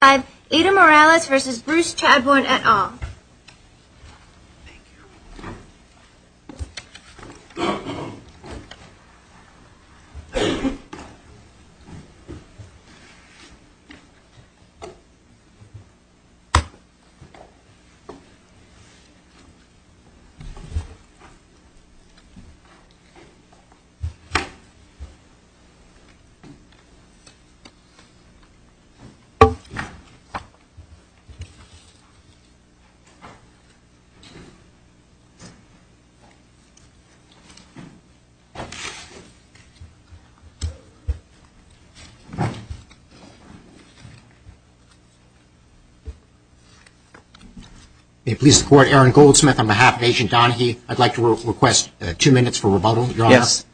5. Ida Morales v. Bruce Chadbourne et al. May it please the Court, Aaron Goldsmith on behalf of Agent Donaghy, I'd like to request two minutes for rebuttal, Your Honor. Yes.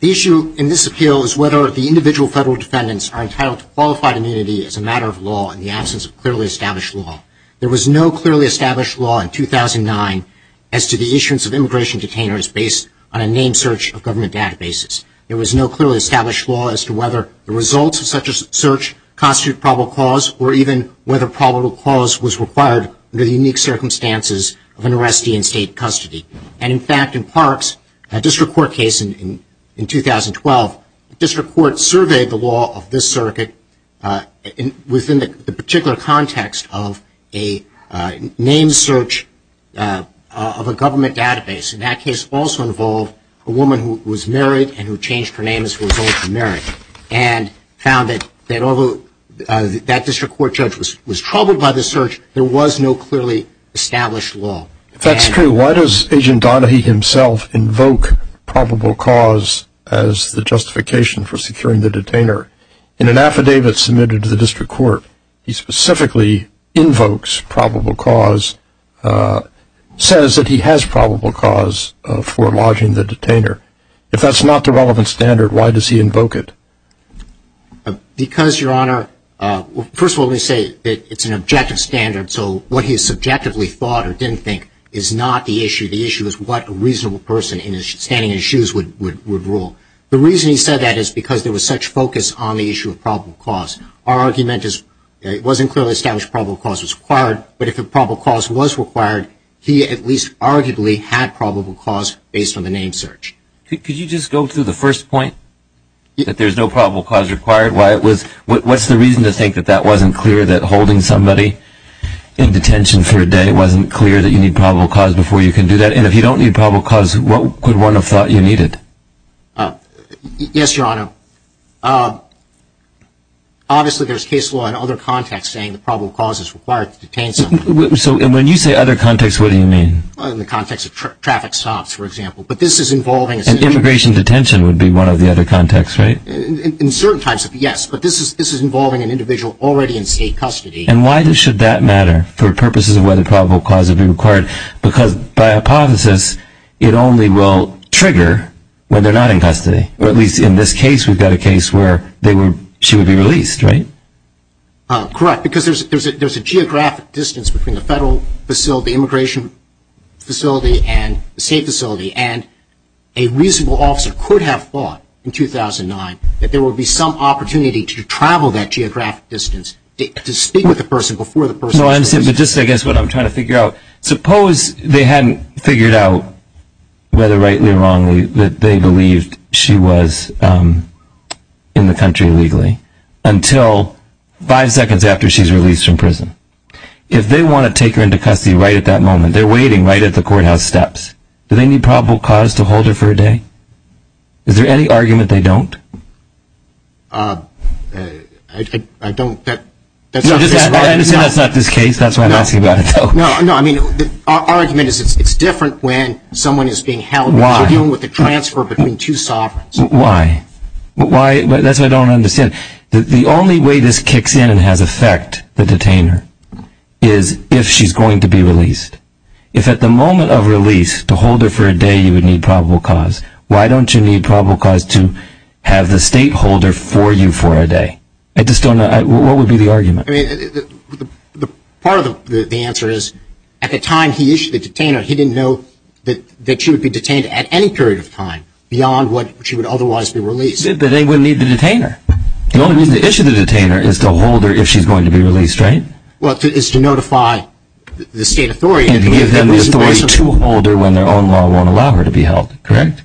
The issue in this appeal is whether the individual federal defendants are entitled to qualified immunity as a matter of law in the absence of clearly established law. There was no clearly established law in 2009 as to the issuance of immigration detainers based on a name search of government databases. There was no clearly established law as to whether the results of such a search constitute probable cause or even whether probable cause was required under the unique circumstances of an arrestee in state custody. And in fact, in Parks, a district court surveyed the law of this circuit within the particular context of a name search of a government database. And that case also involved a woman who was married and who changed her name as a result of her marriage and found that although that district court judge was troubled by the search, there was no clearly established law. If that's true, why does Agent Donaghy himself invoke probable cause as the justification for securing the detainer? In an affidavit submitted to the district court, he specifically invokes probable cause, says that he has probable cause for lodging the detainer. If that's not the relevant standard, why does he invoke it? Because, Your Honor, first of all, let me say that it's an objective standard, so what he subjectively thought or didn't think is not the issue. The issue is what a reasonable person standing in his shoes would rule. The reason he said that is because there was such focus on the issue of probable cause. Our argument is it wasn't clearly established probable cause was required, but if probable cause was required, he at least arguably had probable cause based on the name search. Could you just go to the first point, that there's no probable cause required? What's the reason to think that that wasn't clear, that holding somebody in detention for a day wasn't clear, that you need probable cause before you can do that? And if you don't need probable cause, what could one have thought you needed? Yes, Your Honor. Obviously, there's case law in other contexts saying that probable cause is required to detain somebody. So when you say other contexts, what do you mean? In the context of traffic stops, for example. But this is involving... And immigration detention would be one of the other contexts, right? In certain types, yes. But this is involving an individual already in state custody. And why should that matter for purposes of whether probable cause would be required? Because by hypothesis, it only will trigger when they're not in custody. Or at least in this case, we've got a case where she would be released, right? Correct. Because there's a geographic distance between the federal facility, immigration facility, and the state facility. And a reasonable officer could have thought in 2009 that there would be some opportunity to travel that geographic distance to speak with the person before the person... No, I understand. But just I guess what I'm trying to figure out, suppose they hadn't figured out whether rightly or wrongly that they believed she was in the country illegally until five seconds after she's released from prison. If they want to take her into custody right at that moment, they're waiting right at the courthouse steps. Do they need probable cause to hold her for a day? Is there any argument they don't? I don't... I understand that's not this case. That's why I'm asking about it, though. No, no. I mean, the argument is it's different when someone is being held because they're dealing with the transfer between two sovereigns. Why? That's what I don't understand. The only way this kicks in and has effect, the detainer, is if she's going to be released. If at the moment of release, to hold her for a day you would need probable cause, why don't you need probable cause to have the state hold her for you for a day? I just don't know. What would be the argument? The part of the answer is at the time he issued the detainer, he didn't know that she would be detained at any period of time beyond what she would otherwise be released. But they wouldn't need the detainer. The only reason to issue the detainer is to hold her if she's going to be released, right? Well, it's to notify the state authority. And give them the authority to hold her when their own law won't allow her to be held, correct?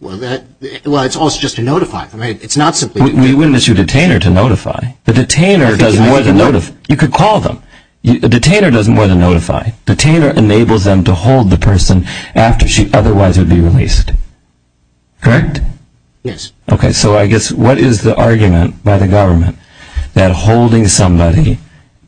Well, it's also just to notify. I mean, it's not simply... We wouldn't issue the detainer to notify. The detainer doesn't want to notify. You could call them. The detainer doesn't want to notify. The detainer enables them to hold the person after she otherwise would be released, correct? Yes. Okay, so I guess what is the argument by the government that holding somebody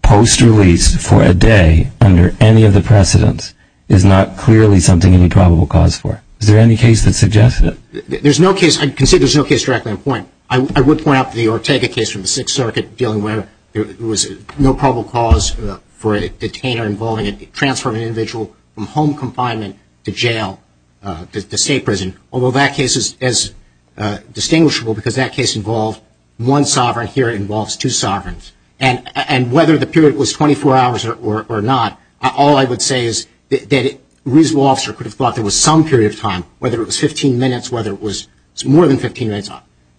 post-release for a day under any of the precedents is not clearly something you need probable cause for? Is there any case that suggests that? There's no case. I'd consider there's no case directly on point. I would point out the Ortega case from the Sixth Circuit dealing with it. There was no probable cause for a detainer involving a transfer of an individual from home confinement to jail, to state prison. Although that case is distinguishable because that case involved one sovereign. Here it involves two sovereigns. And whether the period was 24 hours or not, all I would say is that a reasonable officer could have thought there was some period of time, whether it was 15 minutes, whether it was more than 15 minutes.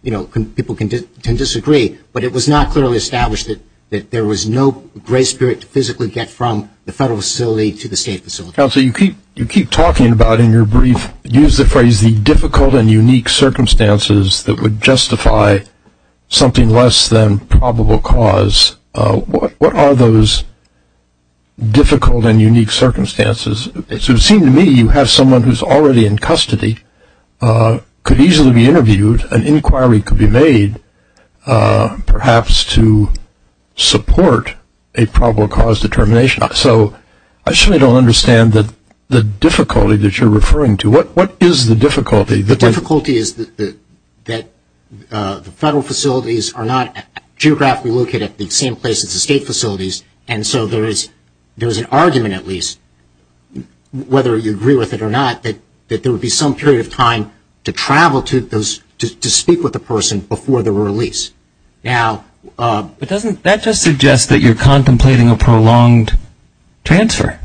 People can disagree, but it was not clearly established that there was no grace period to physically get from the federal facility to the state facility. Counsel, you keep talking about in your brief, use the phrase the difficult and unique circumstances that would justify something less than probable cause. What are those difficult and unique circumstances? It seems to me you have someone who's already in custody, could easily be interviewed, an inquiry could be made, perhaps to support a probable cause determination. So I certainly don't understand the difficulty that you're referring to. What is the difficulty? The difficulty is that the federal facilities are not geographically located at the same place as the state facilities, and so there is an argument at least, whether you agree with it or not, that there would be some period of time to travel to speak with the person before they were released. Now, but doesn't that just suggest that you're contemplating a prolonged transfer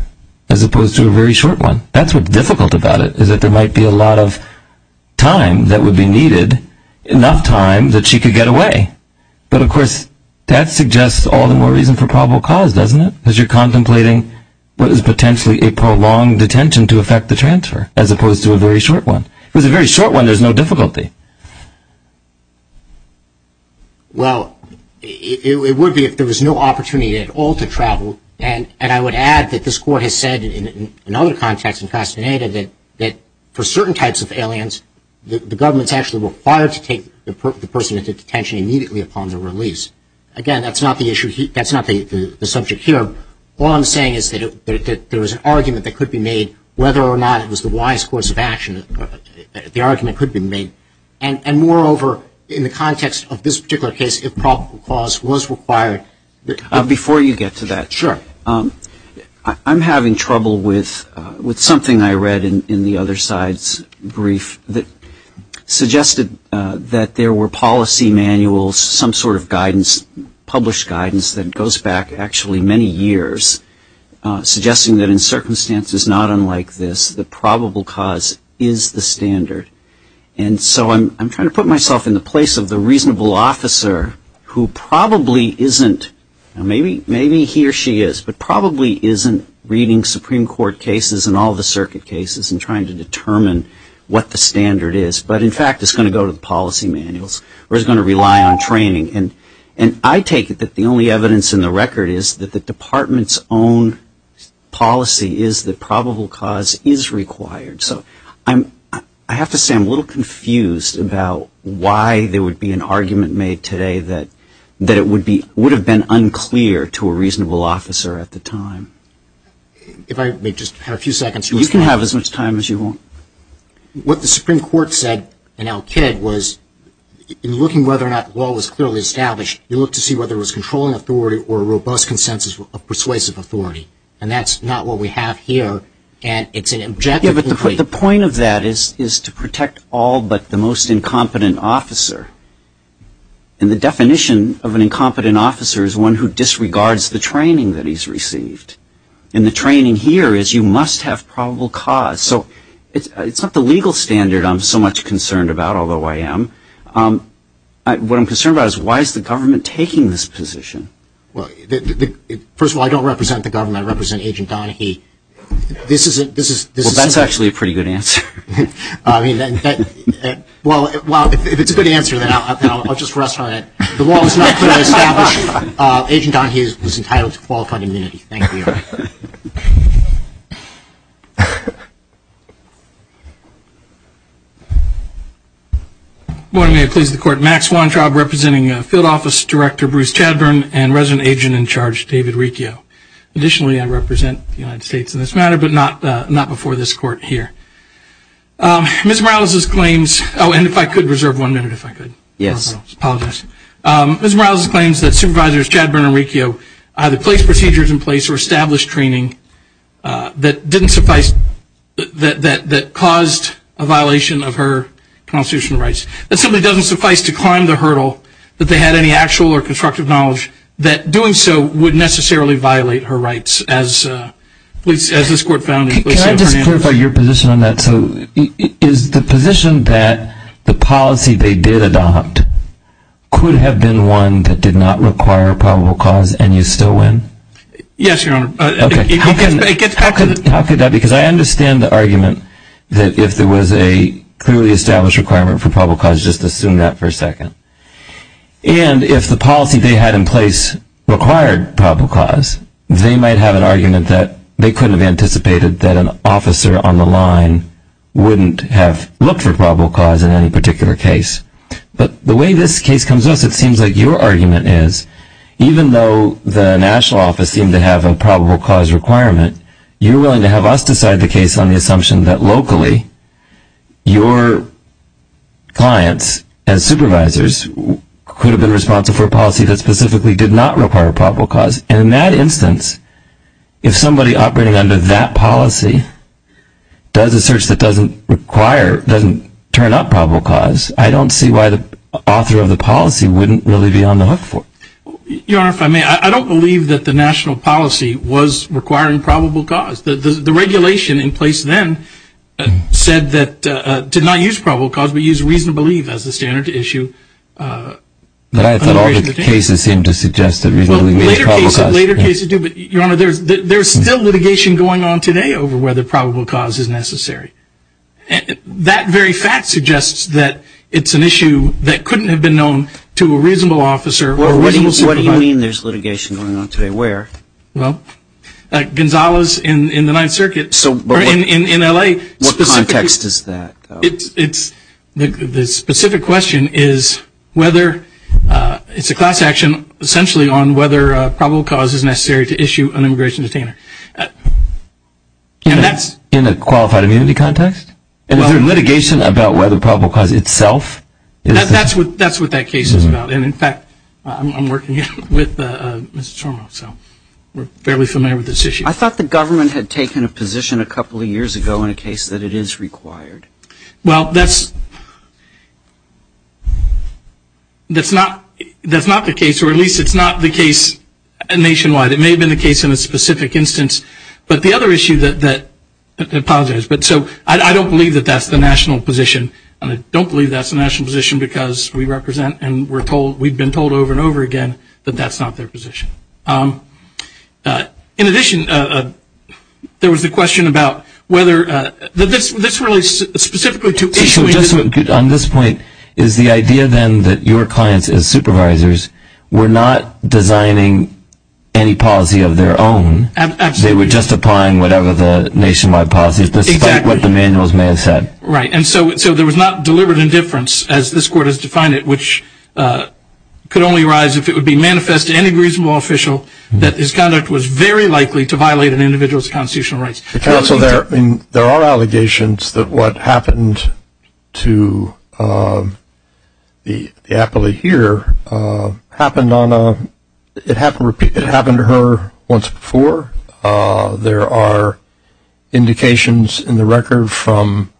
as opposed to a very short one? That's what's difficult about it, is that there might be a lot of time that would be needed, enough time that she could get away. But of course, that suggests all the more reason for probable cause, doesn't it? Because you're contemplating what is potentially a prolonged detention to affect the transfer, as opposed to a very short one. If it was a very short one, there's no difficulty. Well, it would be if there was no opportunity at all to travel, and I would add that this Court has said in other contexts in Castaneda that for certain types of aliens, the government's actually required to take the person into detention immediately upon their release. Again, that's not the subject here. All I'm saying is that there was an argument that could be made whether or not it was the wise course of action. The argument could be made. And moreover, in the context of this particular case, if probable cause was required. Before you get to that. Sure. I'm having trouble with something I read in the other side's brief that suggested that there were policy manuals, some sort of guidance, published guidance that goes back actually many years, suggesting that in circumstances not unlike this, the probable cause is the standard. And so I'm trying to put myself in the place of the reasonable officer who probably isn't, maybe he or she is, but probably isn't reading Supreme Court cases and all the circuit cases and trying to determine what the standard is, but in fact is going to go to the policy manuals, or is going to rely on training. And I take it that the only evidence in the record is that the department's own policy is that probable cause is required. So I have to say I'm a little confused about why there would be an argument made today that it would have been unclear to a reasonable officer at the time. If I may just have a few seconds. You can have as much time as you want. What the Supreme Court said in Al-Kid was, in looking whether or not the law was clearly established, you look to see whether it was controlling authority or a robust consensus of persuasive authority. And that's not what we have here, and it's an objective... Yeah, but the point of that is to protect all but the most incompetent officer. And the definition of an incompetent officer is one who disregards the training that he's received. And the training here is you must have probable cause. So it's not the legal standard I'm so much concerned about, although I am. What I'm concerned about is why is the government taking this position? Well, first of all, I don't represent the government. I represent Agent Donaghy. Well, that's actually a pretty good answer. Well, if it's a good answer, then I'll just rest on it. The law was not clearly established. Agent Donaghy was entitled to qualified immunity. Thank you. Good morning. May it please the Court. Max Weintraub representing Field Office Director Bruce Chadburn and Resident Agent in Charge David Riccio. Additionally, I represent the United States in this matter, but not before this Court here. Ms. Morales' claims... Oh, and if I could reserve one minute, if I could. Yes. Apologize. Ms. Morales' claims that Supervisors Chadburn and Riccio either placed procedures in place or established training that didn't suffice, that caused a violation of her constitutional rights. That simply doesn't suffice to climb the hurdle that they had any actual or constructive knowledge that doing so would necessarily violate her rights. As this Court found... Can I just clarify your position on that? So is the position that the policy they did adopt could have Yes, Your Honor. How could that be? Because I understand the argument that if there was a clearly established requirement for probable cause, just assume that for a second. And if the policy they had in place required probable cause, they might have an argument that they couldn't have anticipated that an officer on the line wouldn't have looked for probable cause in any particular case. But the way this case comes to us, it seems like your argument is even though the National Office seemed to have a probable cause requirement, you're willing to have us decide the case on the assumption that locally your clients as Supervisors could have been responsible for a policy that specifically did not require probable cause. And in that instance, if somebody operating under that policy does a search that doesn't require, doesn't turn up probable cause, I don't see why the author of the policy wouldn't really be on the hook for it. Your Honor, if I may, I don't believe that the national policy was requiring probable cause. The regulation in place then said that, did not use probable cause, but used reasonable leave as the standard to issue. But I thought all the cases seemed to suggest that reasonably reasonable cause. Later cases do, but Your Honor, there's still litigation going on today over whether probable cause is necessary. That very fact suggests that it's an issue that couldn't have been known to a reasonable officer. What do you mean there's litigation going on today? Where? Well, Gonzales in the Ninth Circuit, in L.A. What context is that? The specific question is whether, it's a class action essentially on whether probable cause is necessary to issue an immigration detainer. In a qualified immunity context? Is there litigation about whether probable cause itself? That's what that case is about. And in fact, I'm working with Ms. Tormo, so we're fairly familiar with this issue. I thought the government had taken a position a couple of years ago in a case that it is required. Well, that's not the case, or at least it's not the case nationwide. It may have been the case in a specific instance. But the other issue that, I apologize, but so I don't believe that that's the national position. And I don't believe that's the national position because we represent and we're told, we've been told over and over again that that's not their position. In addition, there was a question about whether, this relates specifically to issuing. On this point, is the idea then that your clients as supervisors were not designing any policy of their own? Absolutely. They were just applying whatever the nationwide policies, despite what the manuals may have said. Right. And so there was not deliberate indifference, as this court has defined it, which could only arise if it would be manifest to any reasonable official that his conduct was very likely to violate an individual's constitutional rights. Counsel, there are allegations that what happened to the appellee here happened on a, it happened to her once before. There are indications in the record from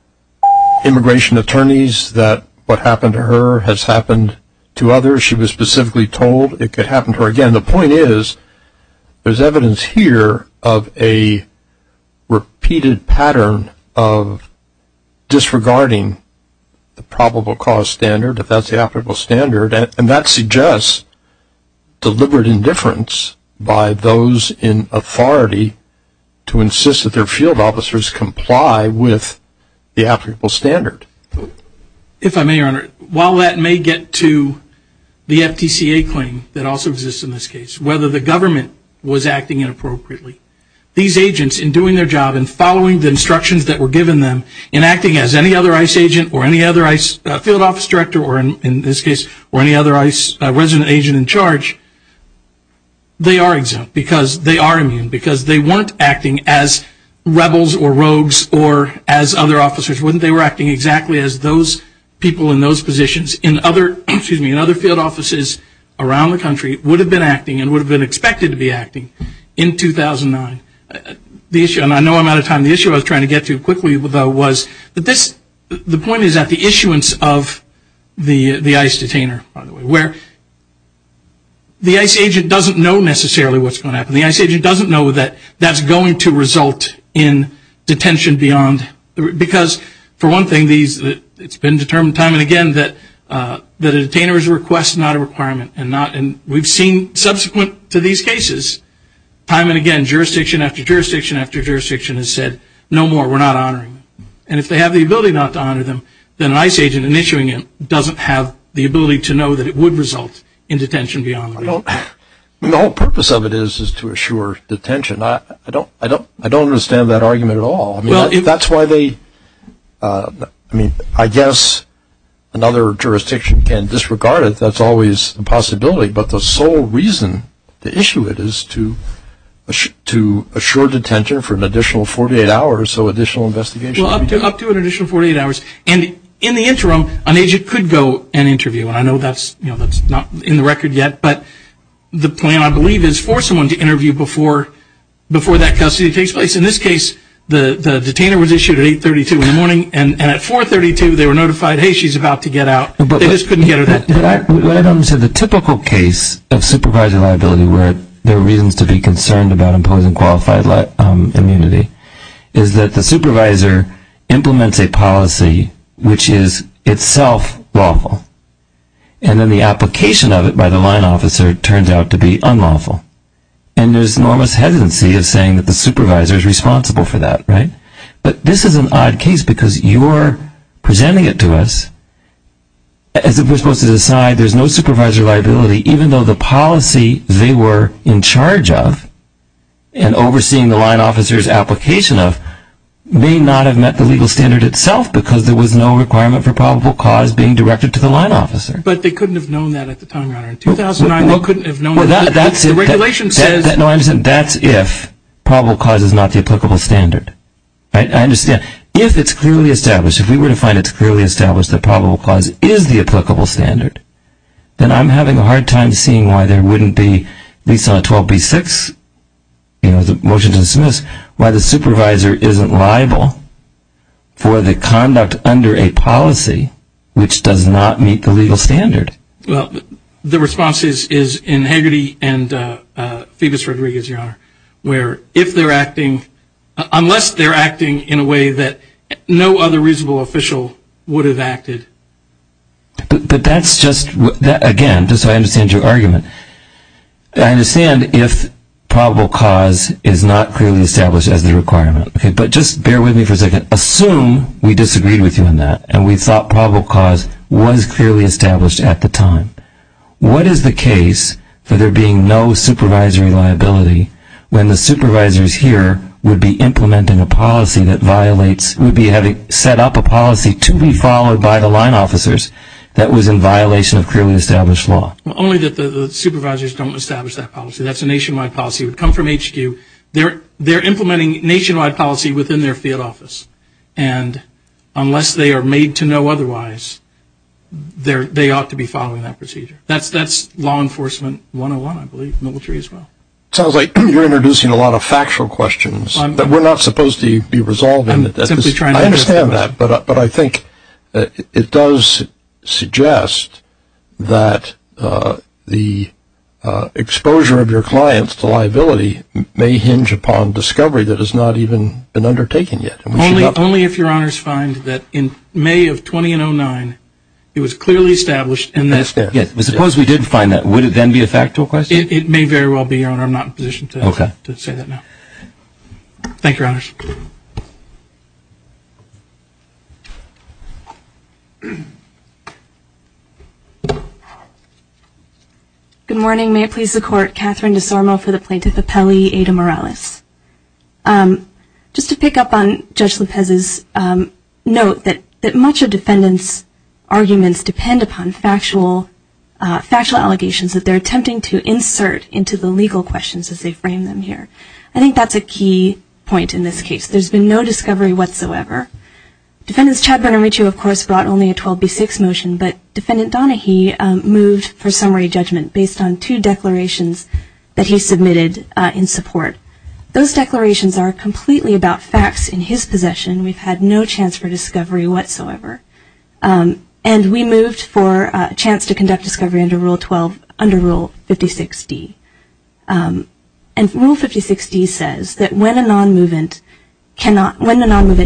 immigration attorneys that what happened to her has happened to others. She was specifically told it could happen to her again. The point is, there's evidence here of a repeated pattern of disregarding the probable cause standard, if that's the applicable standard, and that suggests deliberate indifference by those in authority to insist that their field officers comply with the applicable standard. If I may, Your Honor, while that may get to the FTCA claim that also exists in this case, whether the government was acting inappropriately, these agents, in doing their job and following the instructions that were given them, in acting as any other ICE agent or any other ICE field office director, or in this case, or any other resident agent in charge, they are exempt because they are immune, because they weren't acting as rebels or rogues or as other officers. They were acting exactly as those people in those positions in other field offices around the country would have been acting and would have been expected to be acting in 2009. The issue, and I know I'm out of time, the issue I was trying to get to quickly, though, was that this, the point is that the issuance of the ICE detainer, by the way, where the ICE agent doesn't know necessarily what's going to happen. The ICE agent doesn't know that that's going to result in detention beyond, because for one thing, it's been determined time and again that a detainer's request is not a requirement, and we've seen subsequent to these cases, time and again, jurisdiction after jurisdiction after jurisdiction, and if they have the ability not to honor them, then an ICE agent in issuing it doesn't have the ability to know that it would result in detention beyond. The whole purpose of it is to assure detention. I don't understand that argument at all. That's why they, I mean, I guess another jurisdiction can disregard it. That's always a possibility, but the sole reason to issue it is to assure detention for an additional 48 hours, so additional investigation. Well, up to an additional 48 hours, and in the interim, an agent could go and interview, and I know that's not in the record yet, but the plan, I believe, is for someone to interview before that custody takes place. In this case, the detainer was issued at 8.32 in the morning, and at 4.32, they were notified, hey, she's about to get out. They just couldn't get her that day. What I don't understand, the typical case of supervisory liability where there are reasons to be concerned about imposing qualified immunity is that the supervisor implements a policy which is itself lawful, and then the application of it by the line officer turns out to be unlawful, and there's enormous hesitancy of saying that the supervisor is responsible for that, right? But this is an odd case because you're presenting it to us as if we're supposed to decide there's no supervisor liability even though the policy they were in charge of and overseeing the line officer's application of may not have met the legal standard itself because there was no requirement for probable cause being directed to the line officer. But they couldn't have known that at the time, Your Honor. In 2009, they couldn't have known that. The regulation says... No, I understand. That's if probable cause is not the applicable standard. I understand. If it's clearly established, if we were to find it's clearly established that probable cause is the applicable standard, then I'm having a hard time seeing why there wouldn't be, at least on a 12B-6, you know, the motion to dismiss, why the supervisor isn't liable for the conduct under a policy which does not meet the legal standard. Well, the response is in Hagerty and Phoebus Rodriguez, Your Honor, where if they're acting, unless they're acting in a way that no other reasonable official would have acted... But that's just... Again, just so I understand your argument. I understand if probable cause is not clearly established as the requirement. But just bear with me for a second. Assume we disagreed with you on that and we thought probable cause was clearly established at the time. What is the case for there being no supervisory liability when the supervisors here would be implementing a policy that violates... would be having set up a policy to be followed by the line officers that was in violation of clearly established law? Only that the supervisors don't establish that policy. That's a nationwide policy. It would come from HQ. They're implementing nationwide policy within their field office. And unless they are made to know otherwise, they ought to be following that procedure. That's law enforcement 101, I believe, military as well. Sounds like you're introducing a lot of factual questions that were not supposed to be resolved. I'm simply trying to... I understand that. But I think it does suggest that the exposure of your clients to liability may hinge upon discovery that has not even been undertaken yet. Only if your honors find that in May of 2009, it was clearly established and that... Suppose we did find that. Would it then be a factual question? It may very well be, your honor. I'm not in a position to say that now. Thank you, your honors. Good morning. May it please the court. Catherine DeSormo for the plaintiff appellee, Ada Morales. Just to pick up on Judge Lopez's note that much of defendants arguments depend upon factual allegations that they're attempting to insert into the legal questions as they frame them here. I think that's a key point in this case. There's been no discovery whatsoever. Defendants Chad Bernamucci, of course, brought only a 12B6 motion, but Defendant Donahue moved for summary judgment based on two declarations that he submitted in support. Those declarations are completely about facts in his possession. We've had no chance for discovery whatsoever. And we moved for a chance to conduct discovery under Rule 12, under Rule 56D. And Rule 56D says that when a non-movement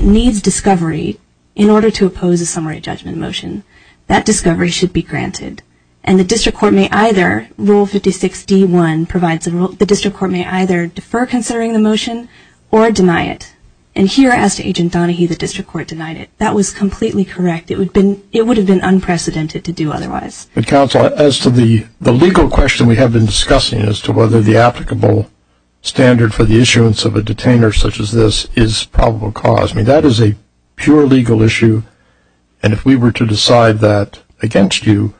needs discovery in order to oppose a summary judgment motion, that discovery should be granted. And the district court may either, Rule 56D1 provides a rule, the district court may either defer considering the motion or deny it. And here, as to Agent Donahue, the district court denied it. That was completely correct. It would have been unprecedented to do otherwise. Counsel, as to the legal question we have been discussing as to whether the applicable standard for the issuance of a detainer such as this is probable cause. I mean, that is a pure legal issue. And if we were to decide that against you,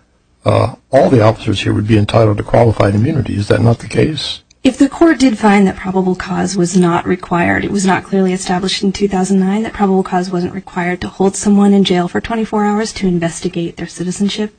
all the officers here would be entitled to qualified immunity. Is that not the case? If the court did find that probable cause was not required, it was not clearly established in 2009 that probable cause wasn't required to hold someone in jail for 24 hours to investigate their citizenship,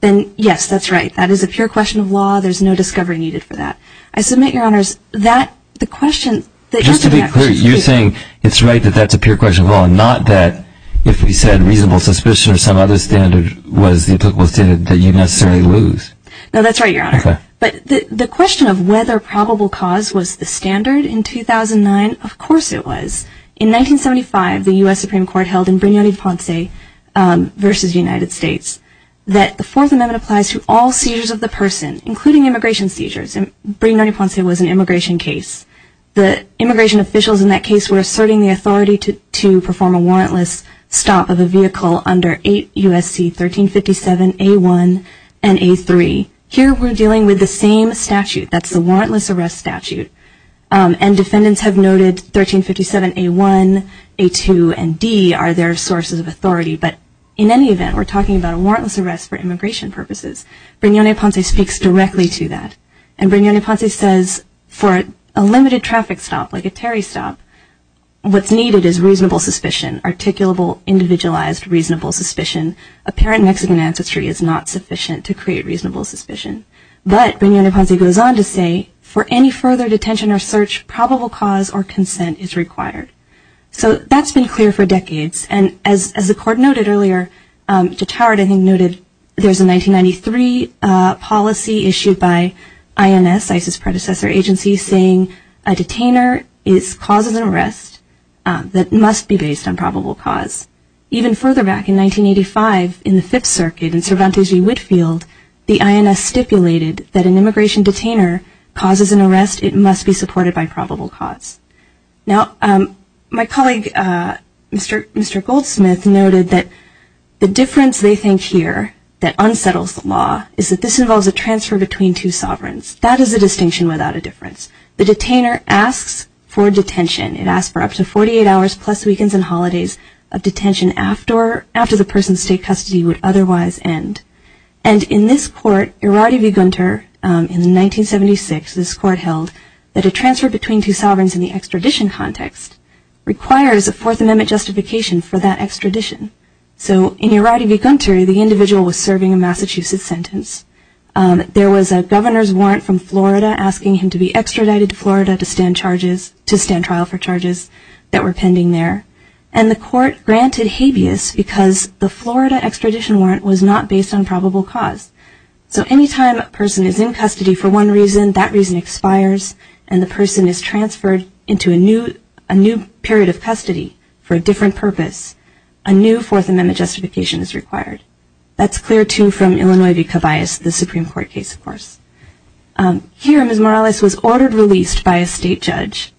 then yes, that's right. That is a pure question of law. There's no discovery needed for that. I submit, Your Honors, that the question that you're asking... Just to be clear, you're saying it's right that that's a pure question of law and not that if we said reasonable suspicion or some other standard was the applicable standard that you'd necessarily lose? No, that's right, Your Honor. Okay. But the question of whether probable cause was the standard in 2009, of course it was. In 1975, the U.S. Supreme Court held in Brignone-Ponce v. United States that the Fourth Amendment applies to all seizures of the person, including immigration seizures. Brignone-Ponce was an immigration case. The immigration officials in that case were asserting the authority to perform a warrantless stop of a vehicle under 8 U.S.C. 1357a1 and a3. Here, we're dealing with the same statute. That's the warrantless arrest statute. And defendants have noted 1357a1, a2, and d are their sources of authority. But in any event, we're talking about a warrantless arrest for immigration purposes. Brignone-Ponce speaks directly to that. And Brignone-Ponce says, for a limited traffic stop, like a Terry stop, what's needed is reasonable suspicion, articulable, individualized, reasonable suspicion. Apparent Mexican ancestry is not sufficient to create reasonable suspicion. But Brignone-Ponce goes on to say, for any further detention or search, probable cause or consent is required. So that's been clear for decades. And as the Court noted earlier, Jettard, I think, noted there's a 1993 policy issued by INS, ISIS's predecessor agency, saying a detainer causes an arrest that must be based on probable cause. Even further back in 1985, in the Fifth Circuit in Cervantes v. Whitefield, the INS stipulated that an immigration detainer causes an arrest, it must be supported by probable cause. Now, my colleague, Mr. Goldsmith, noted that the difference they think here that unsettles the law is that this involves a transfer between two sovereigns. That is a distinction without a difference. The detainer asks for detention. It asks for up to 48 hours, plus weekends and holidays, of detention after the person's state custody would otherwise end. And in this Court, Irady v. Gunter, in 1976, this Court held that a transfer between two sovereigns in the extradition context requires a Fourth Amendment justification for that extradition. So in Irady v. Gunter, the individual was serving a Massachusetts sentence. There was a governor's warrant from Florida asking him to be extradited to Florida to stand trial for charges that were pending there. And the Court granted habeas because the Florida extradition warrant was not based on probable cause. So any time a person is in custody for one reason, that reason expires, and the person is transferred into a new period of custody for a different purpose, a new Fourth Amendment justification is required. That's clear, too, from Illinois v. Cabayas, the Supreme Court case, of course. Here, Ms. Morales was ordered released by a state judge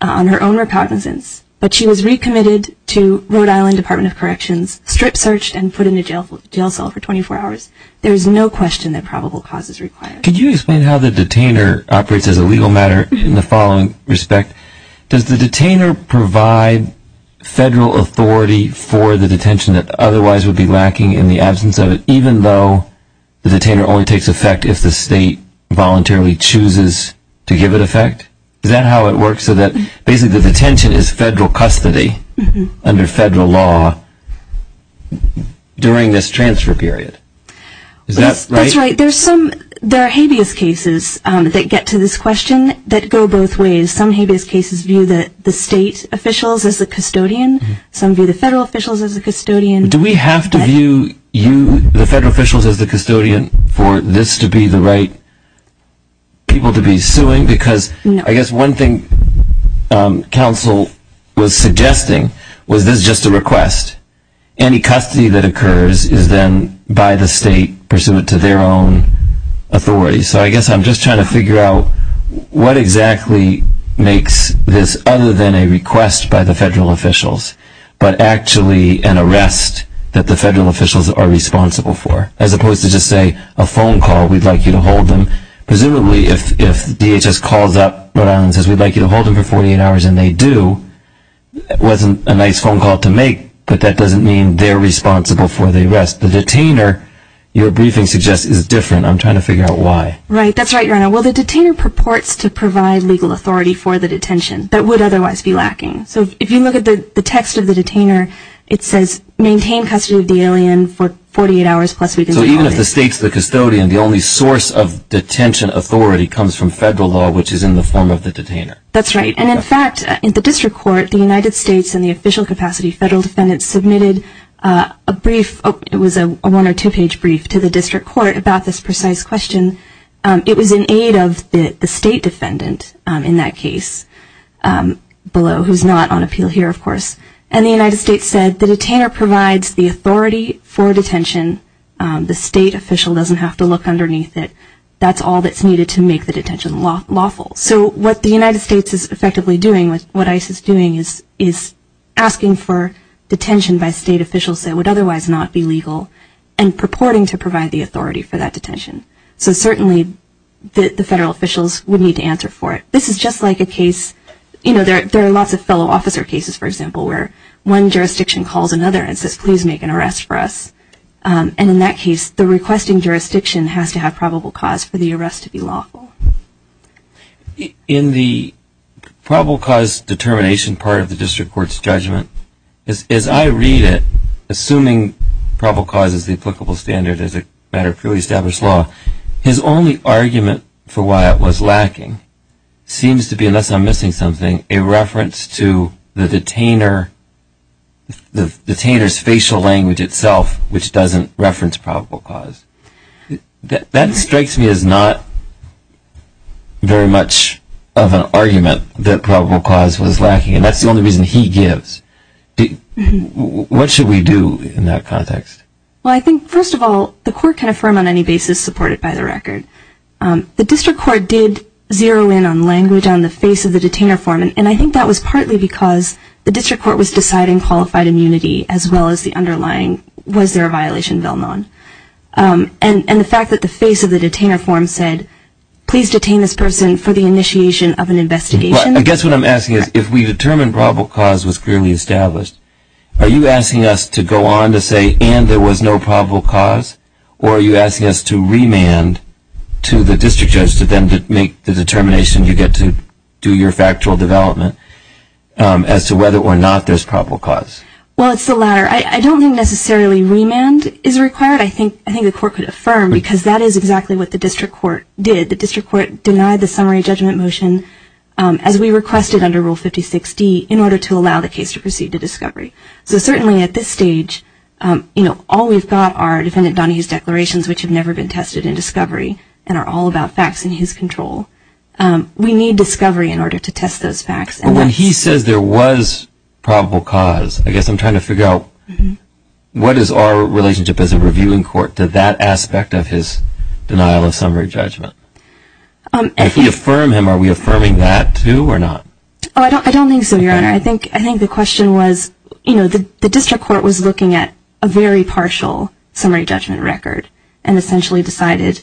on her own recognizance, but she was recommitted to Rhode Island Department of Corrections, strip-searched, and put in a jail cell for 24 hours. There is no question that probable cause is required. Could you explain how the detainer operates as a legal matter in the following respect? Does the detainer provide federal authority for the detention that otherwise would be lacking in the absence of it, even though the detainer only takes effect if the state voluntarily chooses to give it effect? Is that how it works, so that basically the detention is federal custody under federal law during this transfer period? Is that right? That's right. There are habeas cases that get to this question that go both ways. Some habeas cases view the state officials as the custodian. Some view the federal officials as the custodian. Do we have to view the federal officials as the custodian for this to be the right people to be suing? Because I guess one thing counsel was suggesting was this just a request. Any custody that occurs is then by the state pursuant to their own authority. So I guess I'm just trying to figure out what exactly makes this other than a request by the federal officials but actually an arrest that the federal officials are responsible for. As opposed to just say a phone call we'd like you to hold them. Presumably if DHS calls up Rhode Island and says we'd like you to hold them for 48 hours and they do it wasn't a nice phone call to make but that doesn't mean they're responsible for the arrest. The detainer, your briefing suggests, is different. I'm trying to figure out why. Right, that's right, Your Honor. Well the detainer purports to provide legal authority for the detention that would otherwise be lacking. So if you look at the text of the detainer it says maintain custody of the alien for 48 hours plus. So even if the state's the custodian the only source of detention authority comes from federal law which is in the form of the detainer. That's right, and in fact in the district court the United States in the official capacity submitted a brief it was a one or two page brief to the district court about this precise question it was in aid of the state defendant in that case below who's not on appeal here of course and the United States said the detainer provides the authority for detention the state official doesn't have to look the detention lawful. So what the United States is effectively doing what ICE is doing is asking for detention by state officials that would otherwise not be legal and purporting to provide the authority for that detention. So certainly the federal officials would need to answer for it. This is just like a case, you know there are lots of fellow officer cases for example where one jurisdiction calls another and says please make an arrest for us and in that case the requesting jurisdiction has to have probable cause for the arrest to be lawful. In the probable cause determination part of the district court's judgment, as I read it, assuming probable cause is the applicable standard as a matter of fully established law his only argument for why it was lacking seems to be unless I'm missing something, a reference to the detainer the detainer's facial language itself which doesn't reference probable cause. That strikes me as not very much of an argument that probable cause was lacking and that's the only reason he gives. What should we do in that context? Well I think first of all the court can affirm on any basis supported by the record. The district court did zero in on language on the face of the detainer form and I think that was partly because the district court was deciding qualified immunity as well as the underlying was there a violation? And the fact that the face of the detainer form said please detain this person for the initiation of an investigation. I guess what I'm asking is if we determined probable cause was clearly established, are you asking us to go on to say and there was no probable cause or are you asking us to remand to the district judge to then make the determination you get to do your factual development as to whether or not there's probable cause? Well it's the latter. I don't think necessarily remand is required. I think the court could affirm because that is exactly what the district court did. The district court denied the summary judgment motion as we requested under Rule 56D in order to allow the case to proceed to discovery. So certainly at this stage all we've got are Defendant Donahue's declarations which have never been tested in discovery and are all about facts in his control. We need discovery in order to test those facts. When he says there was probable cause, I guess I'm trying to figure out what is our relationship as a reviewing court to that aspect of his denial of summary judgment? If we affirm him, are we affirming that too or not? I don't think so, Your Honor. I think the question was the district court was looking at a very partial summary judgment record and essentially decided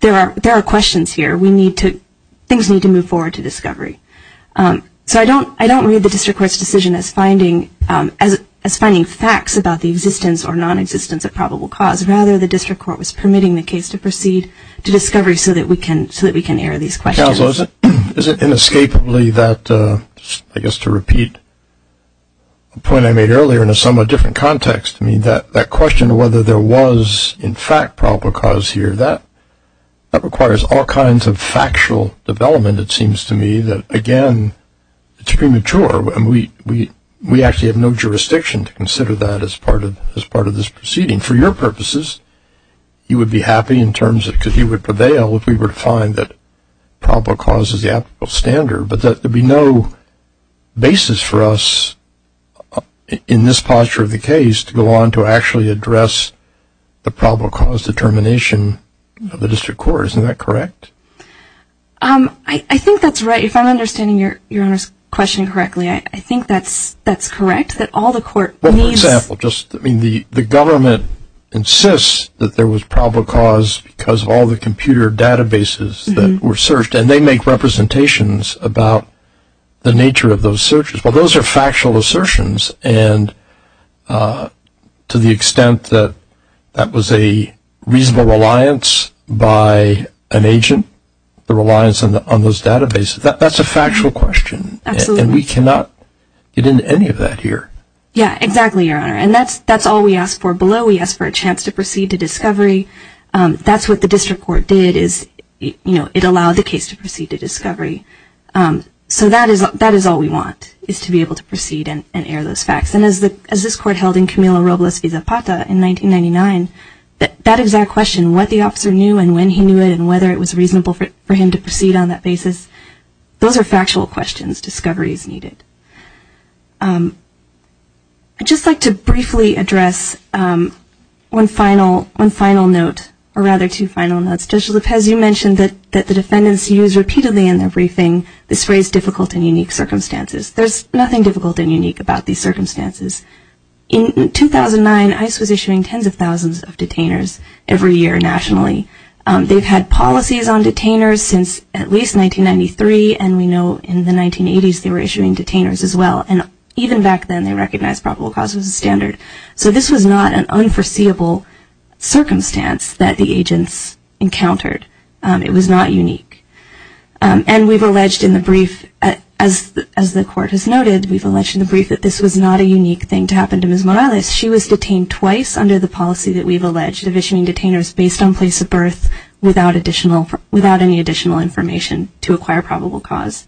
there are questions here. Things need to move forward to discovery. I don't read the district court's decision as finding facts about the existence or non-existence of probable cause. Rather, the district court was permitting the case to proceed to discovery so that we can air these questions. Counsel, is it inescapably that, I guess to repeat the point I made earlier in a somewhat different context that question of whether there was in fact probable cause here that requires all kinds of factual development, it seems to me, that again it's premature. We actually have no jurisdiction to consider that as part of this proceeding. For your purposes, you would be happy in terms of, because he would prevail if we were to find that probable cause is the applicable standard, but there would be no basis for us in this posture of the case to go on to actually address the probable cause determination of the district court. Isn't that correct? I think that's right. If I'm understanding your question correctly, I think that's correct, that all the court needs Well, for example, the government insists that there was probable cause because of all the computer databases that were searched and they make representations about the nature of those searches. Well, those are factual assertions and to the extent that that was a reasonable reliance by an agent the reliance on those databases, that's a factual question and we cannot get into any of that here. Yeah, exactly your honor, and that's all we ask for below we ask for a chance to proceed to discovery that's what the district court did is, you know, it allowed the case to proceed to discovery so that is all we want is to be able to proceed and air those facts and as this court held in Camilo that exact question, what the officer knew and when he knew it and whether it was reasonable for him to proceed on that basis those are factual questions discovery is needed I'd just like to briefly address one final note, or rather two final notes Judge Lopez, you mentioned that the defendants use repeatedly in their briefing this phrase difficult and unique circumstances there's nothing difficult and unique about these circumstances in 2009 ICE was issuing tens of thousands of detainers every year nationally they've had policies on detainers since at least 1993 and we know in the 1980s they were issuing detainers as well and even back then they recognized probable cause as a standard so this was not an unforeseeable circumstance that the agents encountered it was not unique and we've alleged in the brief as the court has noted we've alleged in the brief that this was not a unique thing to happen to Ms. Morales she was detained twice under the policy that we've alleged of issuing detainers based on place of birth without any additional information to acquire probable cause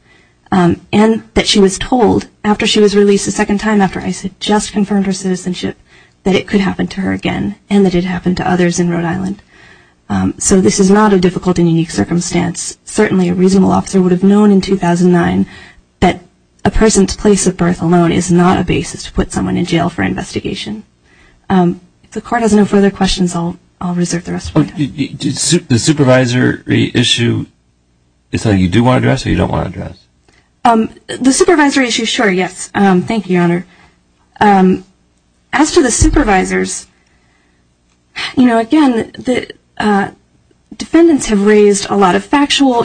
and that she was told after she was released a second time after ICE had just confirmed her citizenship that it could happen to her again and that it happened to others in Rhode Island so this is not a difficult and unique circumstance certainly a reasonable officer would have known in 2009 that a person's place of birth alone is not a basis to put someone in jail for investigation if the court has no further questions I'll reserve the rest of my time the supervisory issue is something you do want to address or you don't want to address the supervisory issue sure yes, thank you your honor as to the supervisors you know again defendants have raised a lot of factual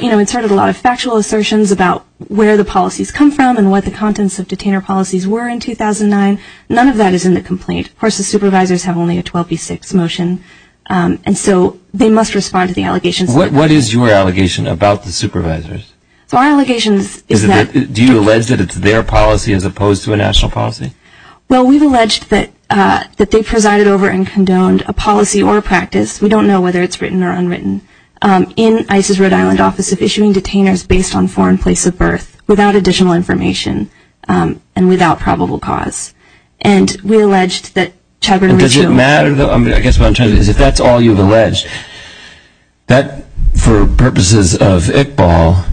assertions about where the policies come from and what the contents of detainer policies were in 2009 none of that is in the complaint of course the supervisors have only a 12b6 motion and so they must respond to the allegations what is your allegation about the supervisors do you allege that it's their policy as opposed to a national policy well we've alleged that they presided over and condoned a policy or a practice we don't know whether it's written or unwritten in ICE's Rhode Island office of issuing detainers based on foreign place of birth without additional information and without probable cause and we alleged that does it matter though if that's all you've alleged that for purposes of Iqbal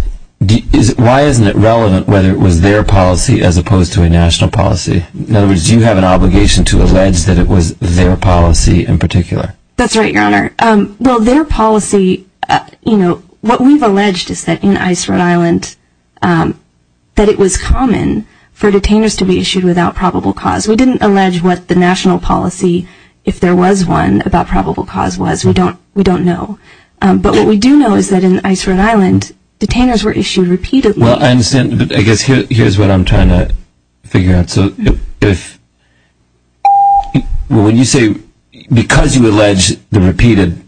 why isn't it relevant whether it was their policy as opposed to a national policy in other words do you have an obligation to allege that it was their policy in particular that's right your honor well their policy what we've alleged is that in ICE Rhode Island that it was common for detainers to be issued without probable cause we didn't allege what the national policy if there was one about probable cause was we don't know but what we do know is that in ICE Rhode Island detainers were issued repeatedly well I understand here's what I'm trying to figure out if because you allege the repeated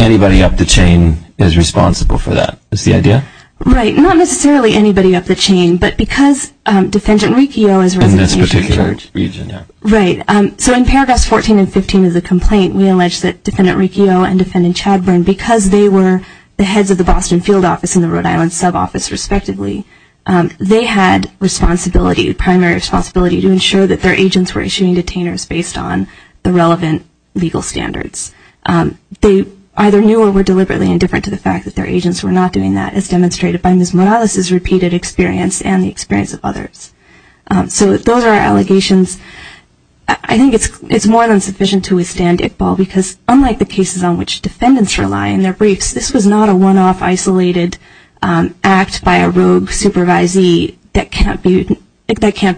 anybody up the chain is responsible for that is the idea not necessarily anybody up the chain but because defendant Riccio in this particular region so in paragraphs 14 and 15 of the complaint we allege that defendant Riccio and defendant Chadburn because they were the heads of the Boston field office and the Rhode Island sub office respectively they had responsibility primary responsibility to ensure that their agents were issuing detainers based on the relevant legal standards they either knew or were deliberately indifferent to the fact that their agents were not doing that as demonstrated by Ms. Morales repeated experience and the experience of others so those are allegations I think it's more than sufficient to withstand Iqbal because unlike the cases on which defendants rely in their briefs this was not a one-off isolated act by a rogue supervisee that can't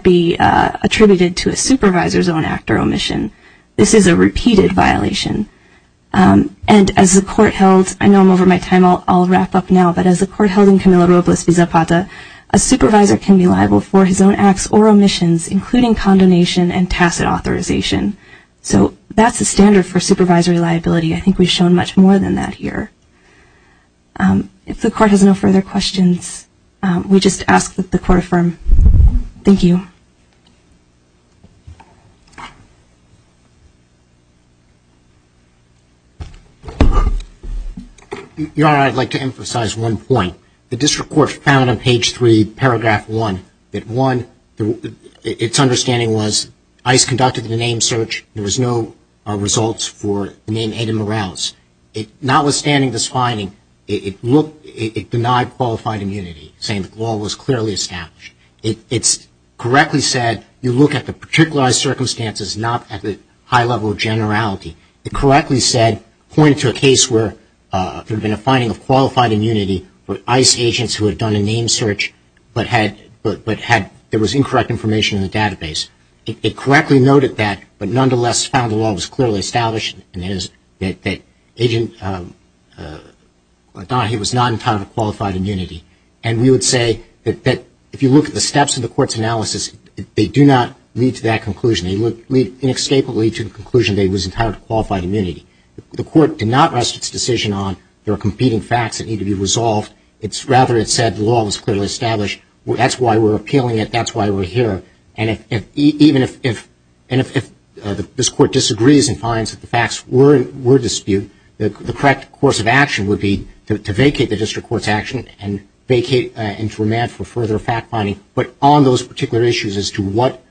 be attributed to a supervisor's own act or omission this is a repeated violation and as the court held I know I'm over my time I'll wrap up now but as the court held in Camilo Robles v. Zapata a supervisor can be liable for his own acts or omissions including condonation and tacit authorization so that's the standard for supervisory liability I think we've shown much more than that here if the court has no further questions we just ask that the court affirm thank you Your Honor Your Honor I'd like to emphasize one point the district court found on page 3 paragraph 1 it's understanding was ICE conducted the name search there was no results for the name Aiden Morales notwithstanding this finding it denied qualified immunity saying the law was clearly established it's correctly said that you look at the particular circumstances not at the high level of generality it correctly said pointed to a case where there had been a finding of qualified immunity with ICE agents who had done a name search but had there was incorrect information in the database it correctly noted that but nonetheless found the law was clearly established that agent Adahi was not entitled to qualified immunity and we would say that if you look at the steps of the court's analysis they do not lead to that conclusion they inescapably lead to the conclusion that he was entitled to qualified immunity the court did not rest its decision on there are competing facts that need to be resolved rather it said the law was clearly established that's why we're appealing it that's why we're here and even if this court disagrees and finds that the facts were disputed the correct course of action would be to vacate the district court's action and vacate and remand for further fact finding but on those particular issues as to what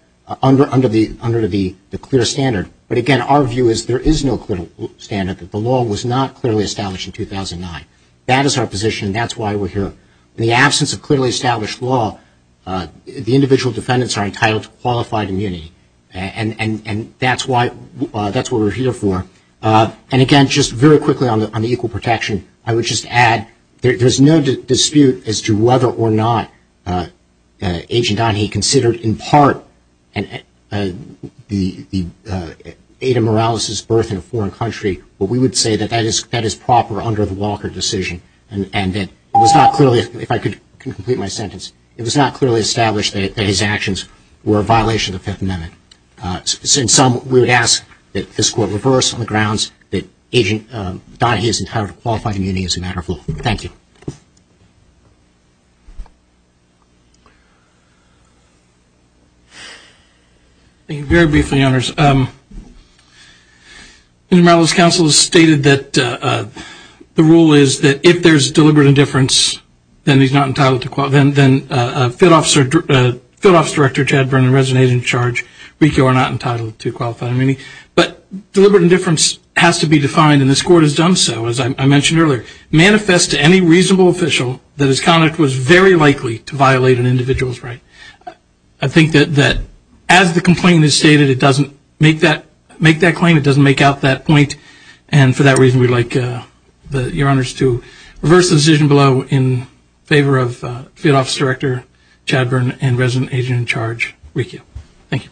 under the clear standard but again our view is there is no clear standard that the law was not clearly established in 2009 that is our position and that's why we're here in the absence of clearly established law the individual defendants are entitled to qualified immunity and that's why that's what we're here for and again just very quickly on the equal protection I would just add there's no dispute as to whether or not Agent Donahue considered in part the Ada Morales' birth in a foreign country but we would say that that is proper under the Walker decision and that it was not clearly if I could complete my sentence it was not clearly established that his actions were a violation of the Fifth Amendment in sum we would ask that this court reverse on the grounds that Agent Donahue is entitled to qualified immunity as a matter of law. Thank you. Thank you very briefly Your Honors Ada Morales' counsel has stated that the rule is that if there's deliberate indifference then he's not entitled to then Field Office Director Chad Vernon and Resident Agent in Charge are not entitled to qualified immunity but deliberate indifference has to be defined and this court has done so as I mentioned earlier. Manifest to any reasonable official that his conduct was very likely to violate an individual's right. I think that as the complaint is stated it doesn't make that claim it doesn't make out that point and for that reason we'd like Your Honors to reverse the decision below in favor of Field Office Director Chad Vernon and Resident Agent in Charge. Thank you.